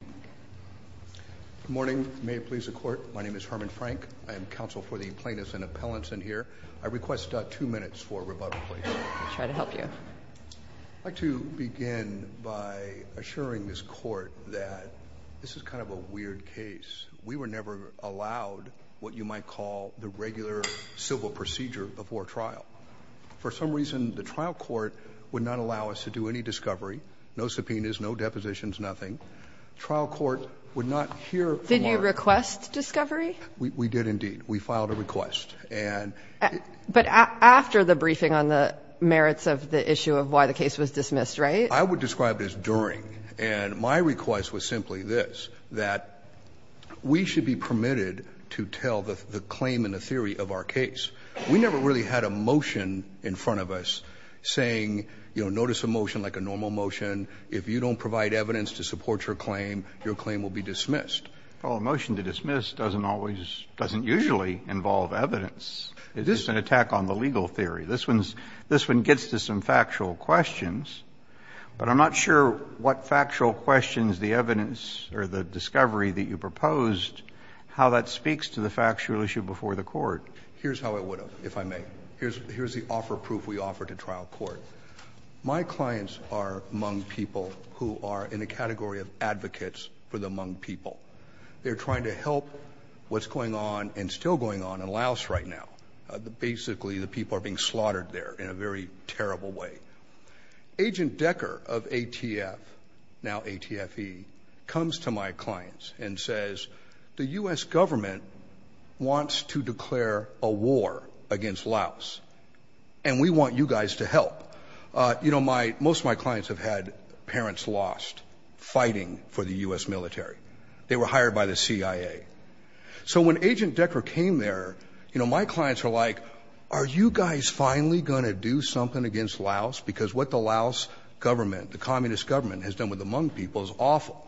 Good morning. May it please the court, my name is Herman Frank. I am counsel for the plaintiffs and appellants in here. I request two minutes for rebuttal, please. I'd like to begin by assuring this court that this is kind of a weird case. We were never allowed what you might call the regular civil procedure before trial. For some reason, the trial court would not allow us to do any discovery, no subpoenas, no depositions, nothing. Trial court would not hear from our court. Did you request discovery? We did indeed. We filed a request. And But after the briefing on the merits of the issue of why the case was dismissed, right? I would describe it as during. And my request was simply this, that we should be permitted to tell the claim and the theory of our case. We never really had a motion in front of us saying, you know, notice a motion like a normal motion. If you don't provide evidence to support your claim, your claim will be dismissed. Well, a motion to dismiss doesn't always, doesn't usually involve evidence. It is an attack on the legal theory. This one's, this one gets to some factual questions, but I'm not sure what factual questions the evidence or the discovery that you proposed, how that speaks to the factual issue before the court. Here's how I would have, if I may. Here's, here's the offer proof we offer to trial court. My clients are Hmong people who are in a category of advocates for the Hmong people. They're trying to help what's going on and still going on in Laos right now. Basically, the people are being slaughtered there in a very terrible way. Agent Decker of ATF, now ATFE, comes to my clients and says, the U.S. government wants to declare a war against Laos, and we want you guys to help. You know, my, most of my clients have had parents lost fighting for the U.S. military. They were hired by the CIA. So when Agent Decker came there, you know, my clients are like, are you guys finally going to do something against Laos? Because what the Laos government, the communist government has done with the Hmong people is awful.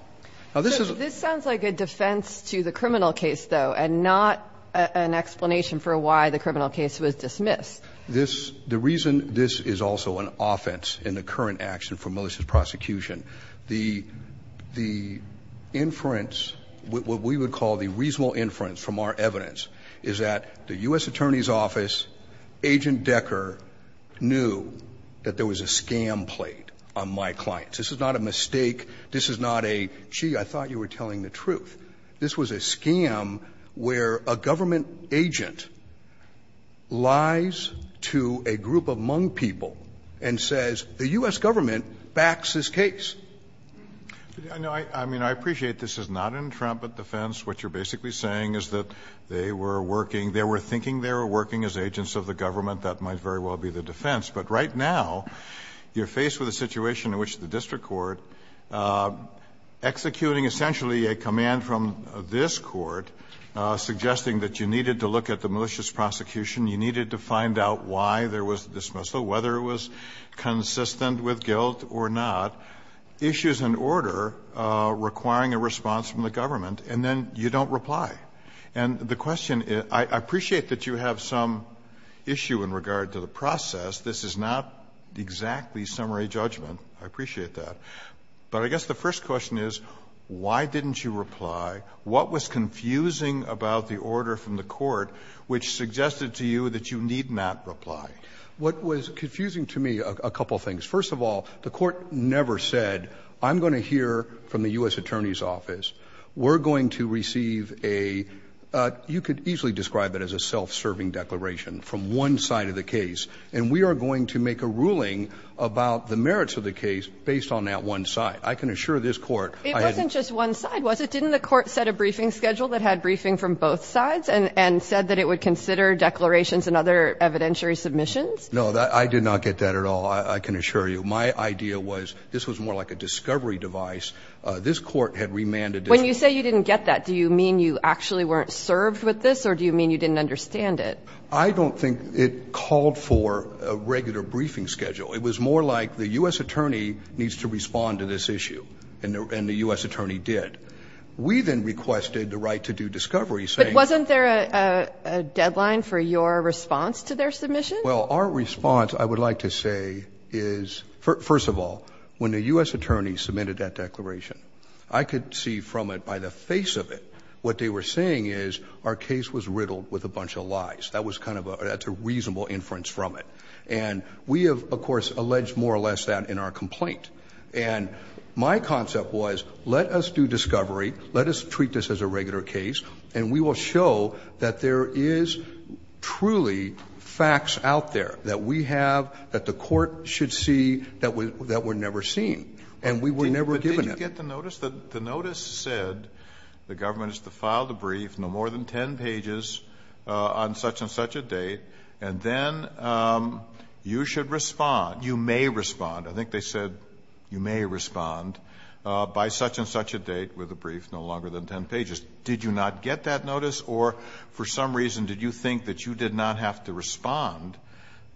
Now, this is. This sounds like a defense to the criminal case, though, and not an explanation for why the criminal case was dismissed. This, the reason this is also an offense in the current action for malicious prosecution, the, the inference, what we would call the reasonable inference from our evidence, is that the U.S. Attorney's Office, Agent Decker knew that there was a scam played on my clients. This is not a mistake. This is not a, gee, I thought you were telling the truth. This was a scam where a government agent lies to a group of Hmong people and says, the U.S. government backs this case. I mean, I appreciate this is not an intrepid defense. What you're basically saying is that they were working, they were thinking they were working as agents of the government. That might very well be the defense. But right now, you're faced with a situation in which the district court, executing essentially a command from this court, suggesting that you needed to look at the malicious prosecution, you needed to find out why there was the dismissal, whether it was consistent with guilt or not, issues an order requiring a response from the government, and then you don't reply. And the question is, I appreciate that you have some issue in regard to the process. This is not exactly summary judgment. I appreciate that. But I guess the first question is, why didn't you reply? What was confusing about the order from the court which suggested to you that you need not reply? What was confusing to me, a couple of things. First of all, the court never said, I'm going to hear from the U.S. Attorney's Office. We're going to receive a, you could easily describe it as a self-serving declaration from one side of the case. And we are going to make a ruling about the merits of the case based on that one side. I can assure this court. It wasn't just one side, was it? Didn't the court set a briefing schedule that had briefing from both sides and said that it would consider declarations and other evidentiary submissions? No, I did not get that at all. I can assure you. My idea was this was more like a discovery device. This court had remanded. When you say you didn't get that, do you mean you actually weren't served with this or do you mean you didn't understand it? I don't think it called for a regular briefing schedule. It was more like the U.S. Attorney needs to respond to this issue and the U.S. Attorney did. We then requested the right to do discovery. But wasn't there a deadline for your response to their submission? Well, our response, I would like to say is, first of all, when the U.S. Attorney submitted that declaration, I could see from it, by the face of it, what they were saying is our case was riddled with a bunch of lies. That was kind of a reasonable inference from it. And we have, of course, alleged more or less that in our complaint. And my concept was let us do discovery, let us treat this as a regular case, and we will show that there is truly facts out there that we have, that the court should see, that were never seen. And we were never given them. But did you get the notice? The notice said the government is to file the brief, no more than ten pages on such and such a date, and then you should respond, you may respond, I think they said you may respond, by such and such a date with a brief no longer than ten pages. Did you not get that notice? Or for some reason did you think that you did not have to respond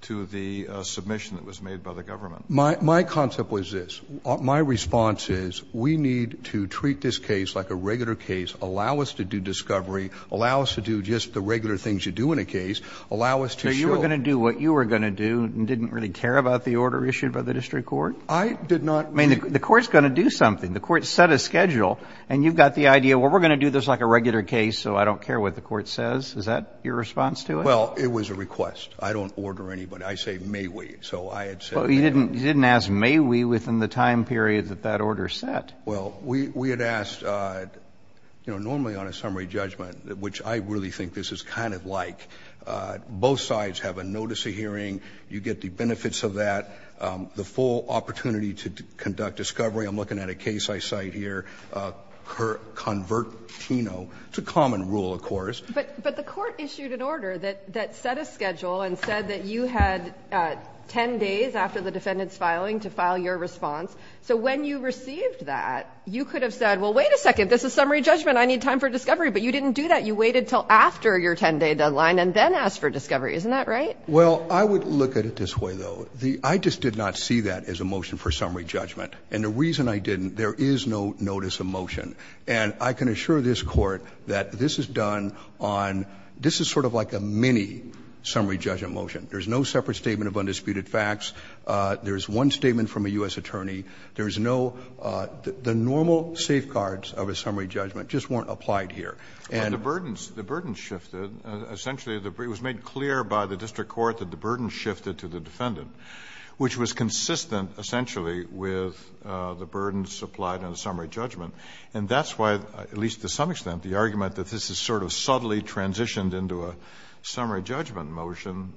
to the submission that was made by the government? My concept was this. My response is we need to treat this case like a regular case, allow us to do discovery, allow us to do just the regular things you do in a case, allow us to show. So you were going to do what you were going to do and didn't really care about the order issued by the district court? I did not. I mean, the court is going to do something. The court set a schedule, and you've got the idea, well, we're going to do this like a regular case, so I don't care what the court says. Is that your response to it? Well, it was a request. I don't order anybody. I say may we. So I had said may we. But you didn't ask may we within the time period that that order set. Well, we had asked, you know, normally on a summary judgment, which I really think this is kind of like, both sides have a notice of hearing, you get the benefits of that, the full opportunity to conduct discovery, I'm looking at a case I cite here, convertino, it's a common rule, of course. But the court issued an order that set a schedule and said that you had ten days after the defendant's filing to file your response. So when you received that, you could have said, well, wait a second. This is summary judgment. I need time for discovery. But you didn't do that. You waited until after your ten-day deadline and then asked for discovery. Isn't that right? Well, I would look at it this way, though. I just did not see that as a motion for summary judgment. And the reason I didn't, there is no notice of motion. And I can assure this Court that this is done on this is sort of like a mini summary judgment motion. There's no separate statement of undisputed facts. There's one statement from a U.S. attorney. There's no the normal safeguards of a summary judgment just weren't applied here. And the burdens, the burdens shifted. Essentially, it was made clear by the district court that the burdens shifted to the defendant, which was consistent, essentially, with the burdens applied on the summary judgment. And that's why, at least to some extent, the argument that this is sort of subtly transitioned into a summary judgment motion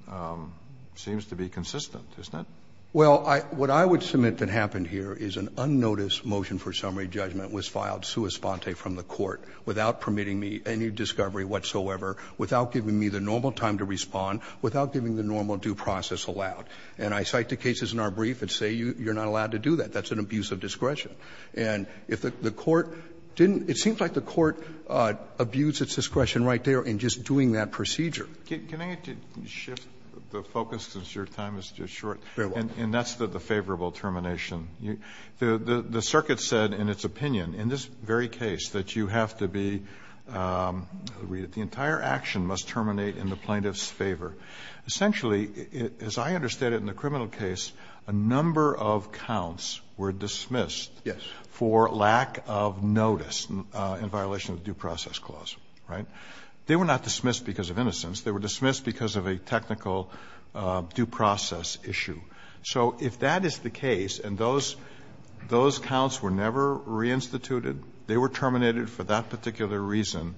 seems to be consistent, doesn't it? Well, what I would submit that happened here is an unnoticed motion for summary judgment was filed sua sponte from the Court without permitting me any discovery whatsoever, without giving me the normal time to respond, without giving the normal due process allowed. And I cite the cases in our brief that say you're not allowed to do that. That's an abuse of discretion. And if the Court didn't, it seems like the Court abused its discretion right there in just doing that procedure. Can I shift the focus, since your time is just short? And that's the favorable termination. The circuit said in its opinion, in this very case, that you have to be the entire action must terminate in the plaintiff's favor. Essentially, as I understand it in the criminal case, a number of counts were dismissed for lack of notice in violation of due process clause, right? They were not dismissed because of innocence. They were dismissed because of a technical due process issue. So if that is the case and those counts were never reinstituted, they were terminated for that particular reason,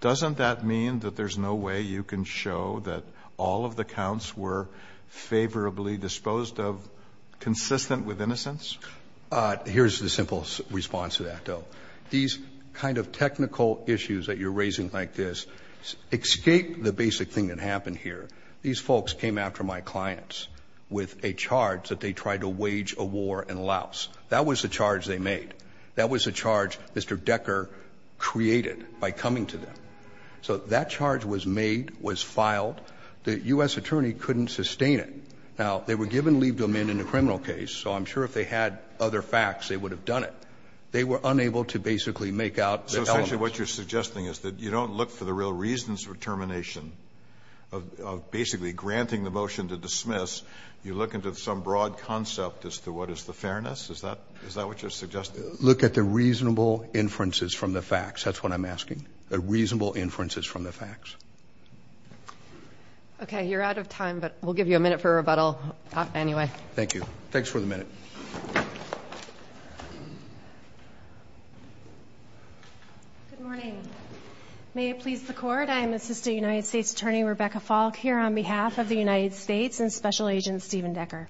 doesn't that mean that there's no way you can show that all of the counts were favorably disposed of consistent with innocence? Here's the simple response to that, though. These kind of technical issues that you're raising like this escape the basic thing that happened here. These folks came after my clients with a charge that they tried to wage a war in Laos. That was the charge they made. That was the charge Mr. Decker created by coming to them. So that charge was made, was filed. The U.S. attorney couldn't sustain it. Now, they were given leave to amend in the criminal case, so I'm sure if they had other facts, they would have done it. They were unable to basically make out the elements. So essentially what you're suggesting is that you don't look for the real reasons for termination of basically granting the motion to dismiss. You look into some broad concept as to what is the fairness? Is that what you're suggesting? Look at the reasonable inferences from the facts. That's what I'm asking, the reasonable inferences from the facts. Okay. You're out of time, but we'll give you a minute for rebuttal anyway. Thank you. Thanks for the minute. Good morning. May it please the court, I am Assistant United States Attorney Rebecca Falk here on behalf of the United States and Special Agent Stephen Decker.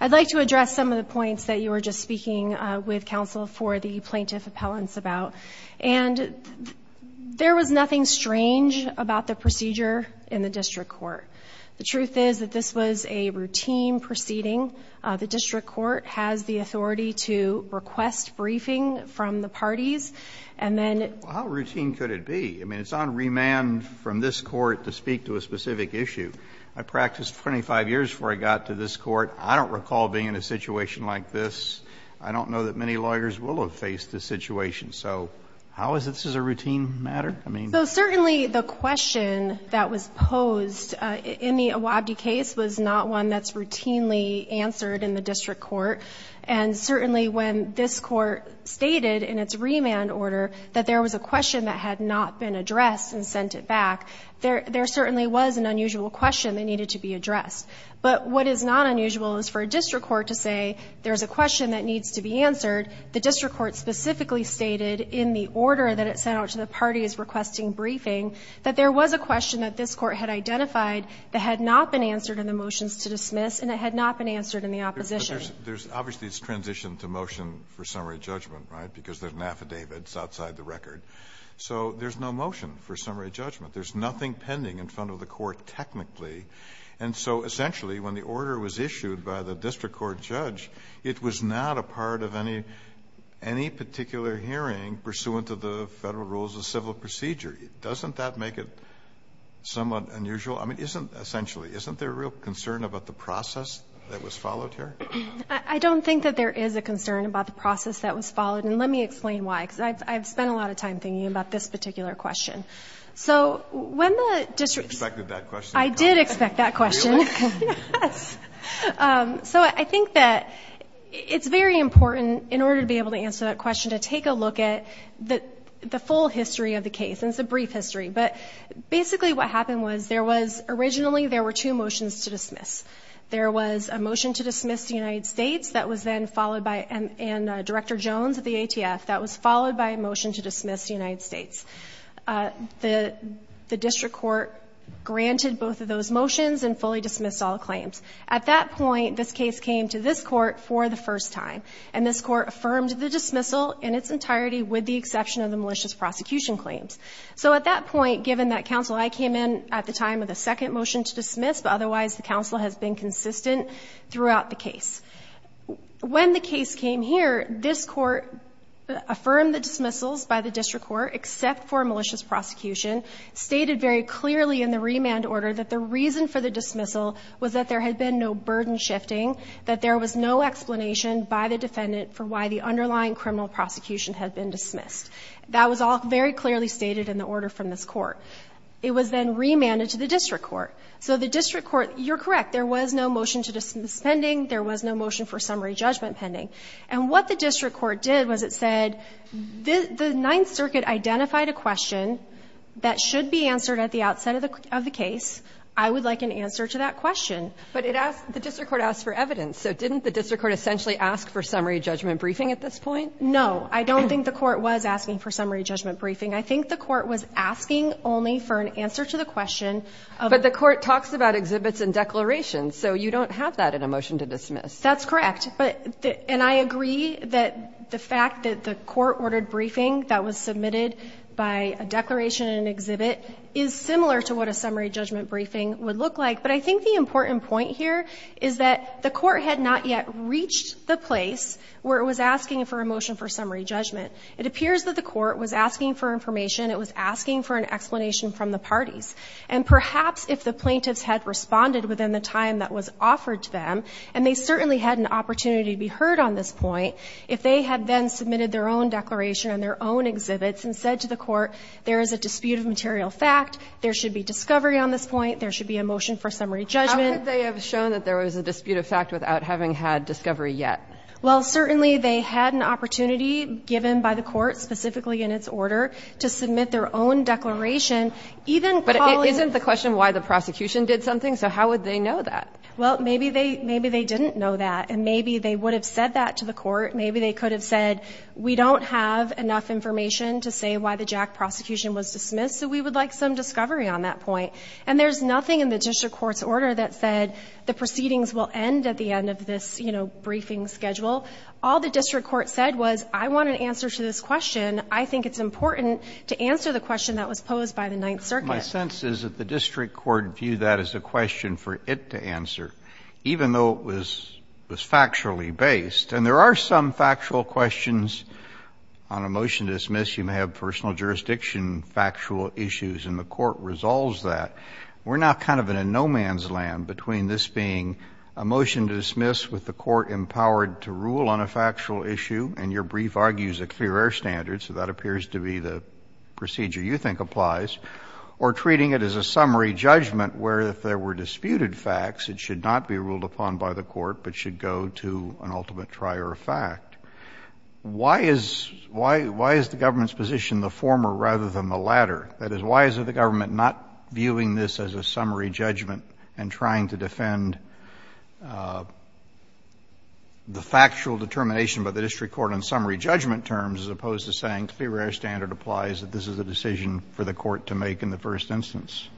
I'd like to address some of the points that you were just speaking with counsel for the plaintiff appellants about. And there was nothing strange about the procedure in the district court. The truth is that this was a routine proceeding. The district court has the authority to request briefing from the parties. And then... Well, how routine could it be? I mean, it's on remand from this court to speak to a specific issue. I practiced 25 years before I got to this court. I don't recall being in a situation like this. I don't know that many lawyers will have faced this situation. So how is this a routine matter? I mean... So certainly the question that was posed in the Awabdi case was not one that's been answered in the district court. And certainly when this court stated in its remand order that there was a question that had not been addressed and sent it back, there certainly was an unusual question that needed to be addressed. But what is not unusual is for a district court to say there's a question that needs to be answered. The district court specifically stated in the order that it sent out to the parties requesting briefing that there was a question that this court had identified that had not been answered in the motions to dismiss and it had not been answered in the opposition. But there's... Obviously, it's transitioned to motion for summary judgment, right, because there's an affidavit that's outside the record. So there's no motion for summary judgment. There's nothing pending in front of the court technically. And so essentially, when the order was issued by the district court judge, it was not a part of any particular hearing pursuant to the federal rules of civil procedure. Doesn't that make it somewhat unusual? I mean, isn't... essentially, isn't there a real concern about the process that was followed here? I don't think that there is a concern about the process that was followed, and let me explain why, because I've spent a lot of time thinking about this particular question. So when the district... You expected that question. I did expect that question. Really? Yes. So I think that it's very important in order to be able to answer that question to take a look at the full history of the case. And it's a brief history. But basically, what happened was there was... originally, there were two motions to dismiss. There was a motion to dismiss the United States that was then followed by... and Director Jones of the ATF, that was followed by a motion to dismiss the United States. The district court granted both of those motions and fully dismissed all claims. At that point, this case came to this court for the first time. And this court affirmed the dismissal in its entirety with the exception of the malicious prosecution claims. So at that point, given that counsel... I came in at the time of the second motion to dismiss, but otherwise, the counsel has been consistent throughout the case. When the case came here, this court affirmed the dismissals by the district court except for malicious prosecution, stated very clearly in the remand order that the reason for the dismissal was that there had been no burden shifting, that there was no explanation by the defendant for why the underlying criminal prosecution had been dismissed. That was all very clearly stated in the order from this court. It was then remanded to the district court. So the district court... you're correct. There was no motion to dismiss pending. There was no motion for summary judgment pending. And what the district court did was it said, the Ninth Circuit identified a question that should be answered at the outset of the case. I would like an answer to that question. But it asked... the district court asked for evidence. So didn't the district court essentially ask for summary judgment briefing at this point? No. I don't think the court was asking for summary judgment briefing. I think the court was asking only for an answer to the question of... But the court talks about exhibits and declarations. So you don't have that in a motion to dismiss. That's correct. But... and I agree that the fact that the court ordered briefing that was submitted by a declaration and exhibit is similar to what a summary judgment briefing would look like. But I think the important point here is that the court had not yet reached the place where it was asking for a motion for summary judgment. It appears that the court was asking for information. It was asking for an explanation from the parties. And perhaps if the plaintiffs had responded within the time that was offered to them, and they certainly had an opportunity to be heard on this point, if they had then submitted their own declaration and their own exhibits and said to the court, there is a dispute of material fact, there should be discovery on this point, there should be a motion for summary judgment... How could they have shown that there was a dispute of fact without having had discovery yet? Well, certainly they had an opportunity given by the court, specifically in its order, to submit their own declaration, even calling... But isn't the question why the prosecution did something? So how would they know that? Well, maybe they didn't know that, and maybe they would have said that to the court. Maybe they could have said, we don't have enough information to say why the Jack prosecution was dismissed, so we would like some discovery on that point. And there's nothing in the district court's order that said the proceedings will end at the end of this, you know, briefing schedule. All the district court said was, I want an answer to this question. I think it's important to answer the question that was posed by the Ninth Circuit. My sense is that the district court viewed that as a question for it to answer, even though it was factually based. And there are some factual questions on a motion to dismiss. You may have personal jurisdiction factual issues, and the court resolves that. We're now kind of in a no-man's land between this being a motion to dismiss with the court empowered to rule on a factual issue, and your brief argues a clear air standard, so that appears to be the procedure you think applies, or treating it as a summary judgment where if there were disputed facts, it should not be ruled upon by the court, but should go to an ultimate trier of fact. Why is the government's position the former rather than the latter? That is, why is the government not viewing this as a summary judgment and trying to defend the factual determination by the district court on summary judgment terms as opposed to saying clear air standard applies, that this is a decision for the court to make in the first instance?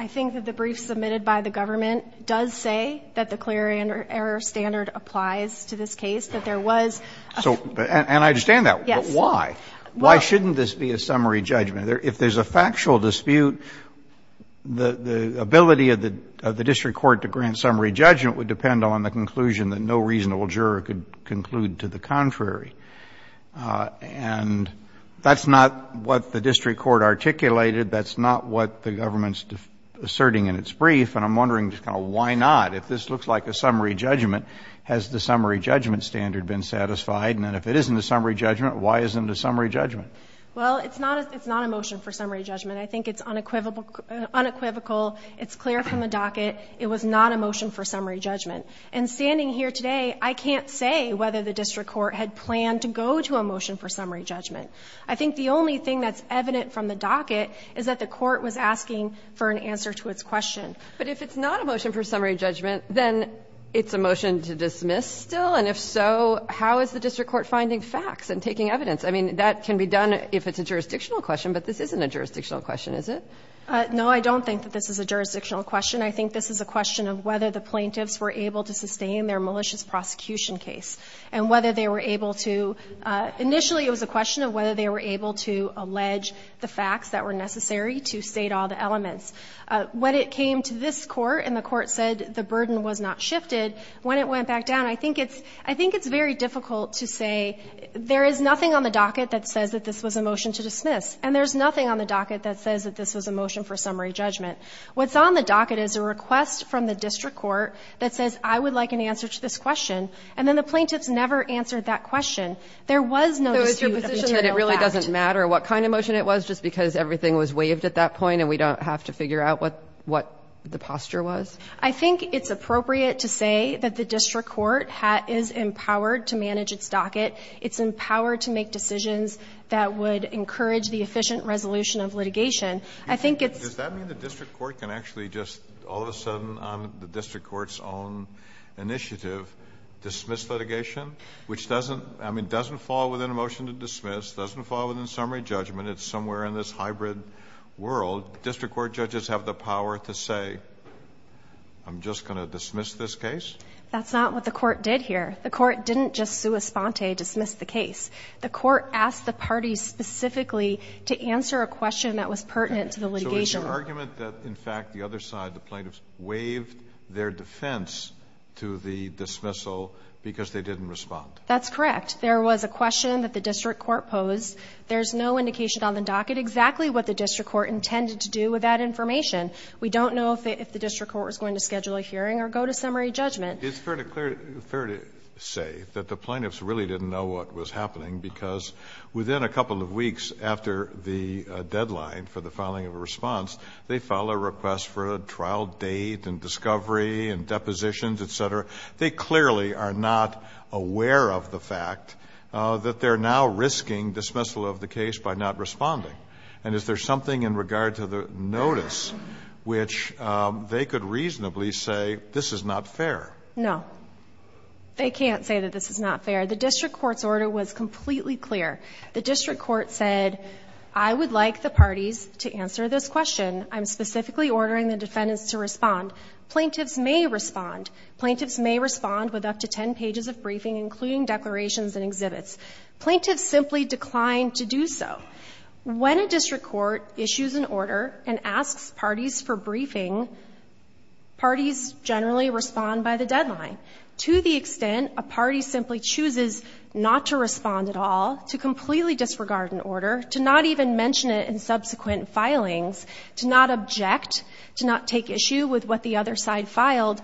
I think that the brief submitted by the government does say that the clear air standard applies to this case, that there was a... And I understand that, but why? Why shouldn't this be a summary judgment? If there's a factual dispute, the ability of the district court to grant summary judgment would depend on the conclusion that no reasonable juror could conclude to the contrary. And that's not what the district court articulated. That's not what the government's asserting in its brief, and I'm wondering why not? If this looks like a summary judgment, has the summary judgment standard been satisfied? And if it isn't a summary judgment, why isn't it a summary judgment? Well, it's not a motion for summary judgment. I think it's unequivocal, it's clear from the docket, it was not a motion for summary judgment. And standing here today, I can't say whether the district court had planned to go to a motion for summary judgment. I think the only thing that's evident from the docket is that the court was asking for an answer to its question. But if it's not a motion for summary judgment, then it's a motion to dismiss still? And if so, how is the district court finding facts and taking evidence? I mean, that can be done if it's a jurisdictional question, but this isn't a jurisdictional question, is it? No, I don't think that this is a jurisdictional question. I think this is a question of whether the plaintiffs were able to sustain their malicious prosecution case and whether they were able to. Initially, it was a question of whether they were able to allege the facts that were necessary to state all the elements. When it came to this court and the court said the burden was not shifted, when it went to the district court, there was nothing on the docket that says that this was a motion to dismiss, and there's nothing on the docket that says that this was a motion for summary judgment. What's on the docket is a request from the district court that says, I would like an answer to this question, and then the plaintiffs never answered that question. There was no issue of material fact. So it's your position that it really doesn't matter what kind of motion it was just because everything was waived at that point and we don't have to figure out what the posture was? I think it's appropriate to say that the district court is empowered to manage its docket. It's empowered to make decisions that would encourage the efficient resolution of litigation. I think it's Does that mean the district court can actually just, all of a sudden, on the district court's own initiative, dismiss litigation? Which doesn't, I mean, doesn't fall within a motion to dismiss, doesn't fall within summary judgment. It's somewhere in this hybrid world. District court judges have the power to say, I'm just going to dismiss this case? That's not what the court did here. The court didn't just sua sponte, dismiss the case. The court asked the party specifically to answer a question that was pertinent to the litigation. So it's an argument that, in fact, the other side, the plaintiffs, waived their defense to the dismissal because they didn't respond. That's correct. There was a question that the district court posed. There's no indication on the docket exactly what the district court intended to do with that information. We don't know if the district court was going to schedule a hearing or go to summary judgment. It's fair to say that the plaintiffs really didn't know what was happening because within a couple of weeks after the deadline for the filing of a response, they clearly are not aware of the fact that they're now risking dismissal of the case by not responding. And is there something in regard to the notice which they could reasonably say, this is not fair? No. They can't say that this is not fair. The district court's order was completely clear. The district court said, I would like the parties to answer this question. I'm specifically ordering the defendants to respond. Plaintiffs may respond. Plaintiffs may respond with up to 10 pages of briefing, including declarations and exhibits. Plaintiffs simply declined to do so. When a district court issues an order and asks parties for briefing, parties generally respond by the deadline to the extent a party simply chooses not to respond at all, to completely disregard an order, to not even mention it in subsequent filings, to not object, to not take issue with what the other side filed,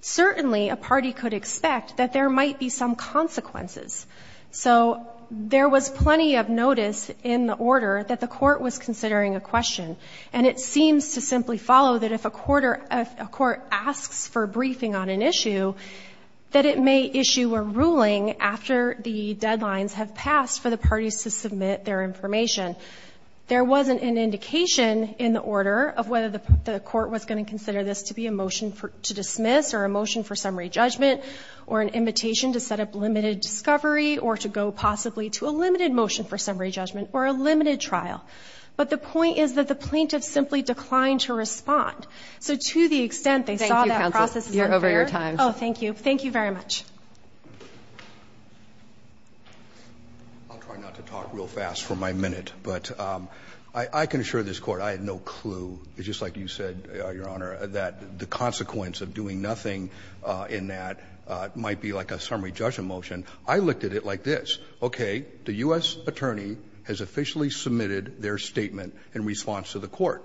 certainly a party could expect that there might be some consequences. So there was plenty of notice in the order that the court was considering a question, and it seems to simply follow that if a court asks for briefing on an issue, that it may issue a ruling after the deadlines have passed for the parties to submit their information. There wasn't an indication in the order of whether the court was going to consider this to be a motion to dismiss or a motion for summary judgment or an invitation to set up limited discovery or to go possibly to a limited motion for summary judgment or a limited trial. But the point is that the plaintiffs simply declined to respond. So to the extent they saw that process as unfair. Kagan. Roberts. You're over your time. Oh, thank you. Thank you very much. I'll try not to talk real fast for my minute, but I can assure this Court I had no idea, Your Honor, that the consequence of doing nothing in that might be like a summary judgment motion. I looked at it like this. Okay. The U.S. attorney has officially submitted their statement in response to the court.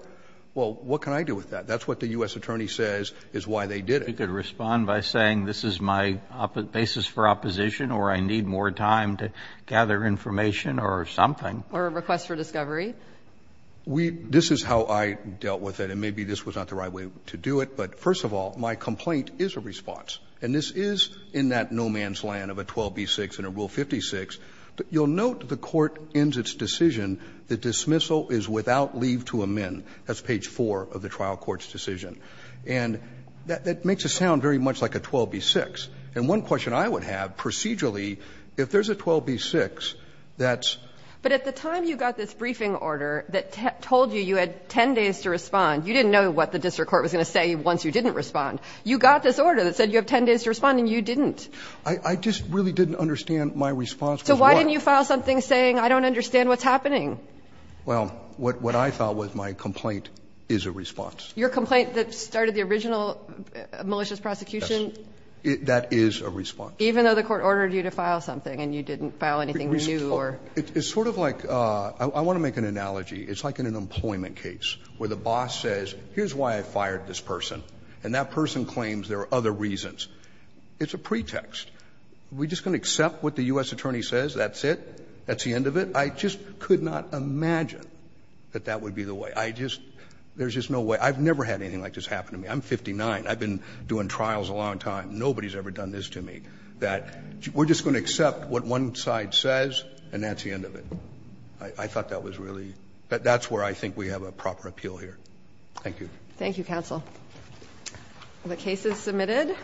Well, what can I do with that? That's what the U.S. attorney says is why they did it. You could respond by saying this is my basis for opposition or I need more time to gather information or something. Or a request for discovery. This is how I dealt with it, and maybe this was not the right way to do it. But first of all, my complaint is a response, and this is in that no-man's-land of a 12b-6 and a Rule 56. But you'll note the Court ends its decision, the dismissal is without leave to amend. That's page 4 of the trial court's decision. And that makes it sound very much like a 12b-6. And one question I would have procedurally, if there's a 12b-6 that's. But at the time you got this briefing order that told you you had 10 days to respond, you didn't know what the district court was going to say once you didn't respond. You got this order that said you have 10 days to respond and you didn't. I just really didn't understand my response. So why didn't you file something saying I don't understand what's happening? Well, what I thought was my complaint is a response. Your complaint that started the original malicious prosecution? Yes. That is a response. Even though the court ordered you to file something and you didn't file anything new or. It's sort of like, I want to make an analogy. It's like in an employment case where the boss says, here's why I fired this person. And that person claims there are other reasons. It's a pretext. Are we just going to accept what the U.S. attorney says? That's it? That's the end of it? I just could not imagine that that would be the way. I just, there's just no way. I've never had anything like this happen to me. I'm 59. I've been doing trials a long time. Nobody's ever done this to me. We're just going to accept what one side says and that's the end of it. I thought that was really, that's where I think we have a proper appeal here. Thank you. Thank you, counsel. The case is submitted.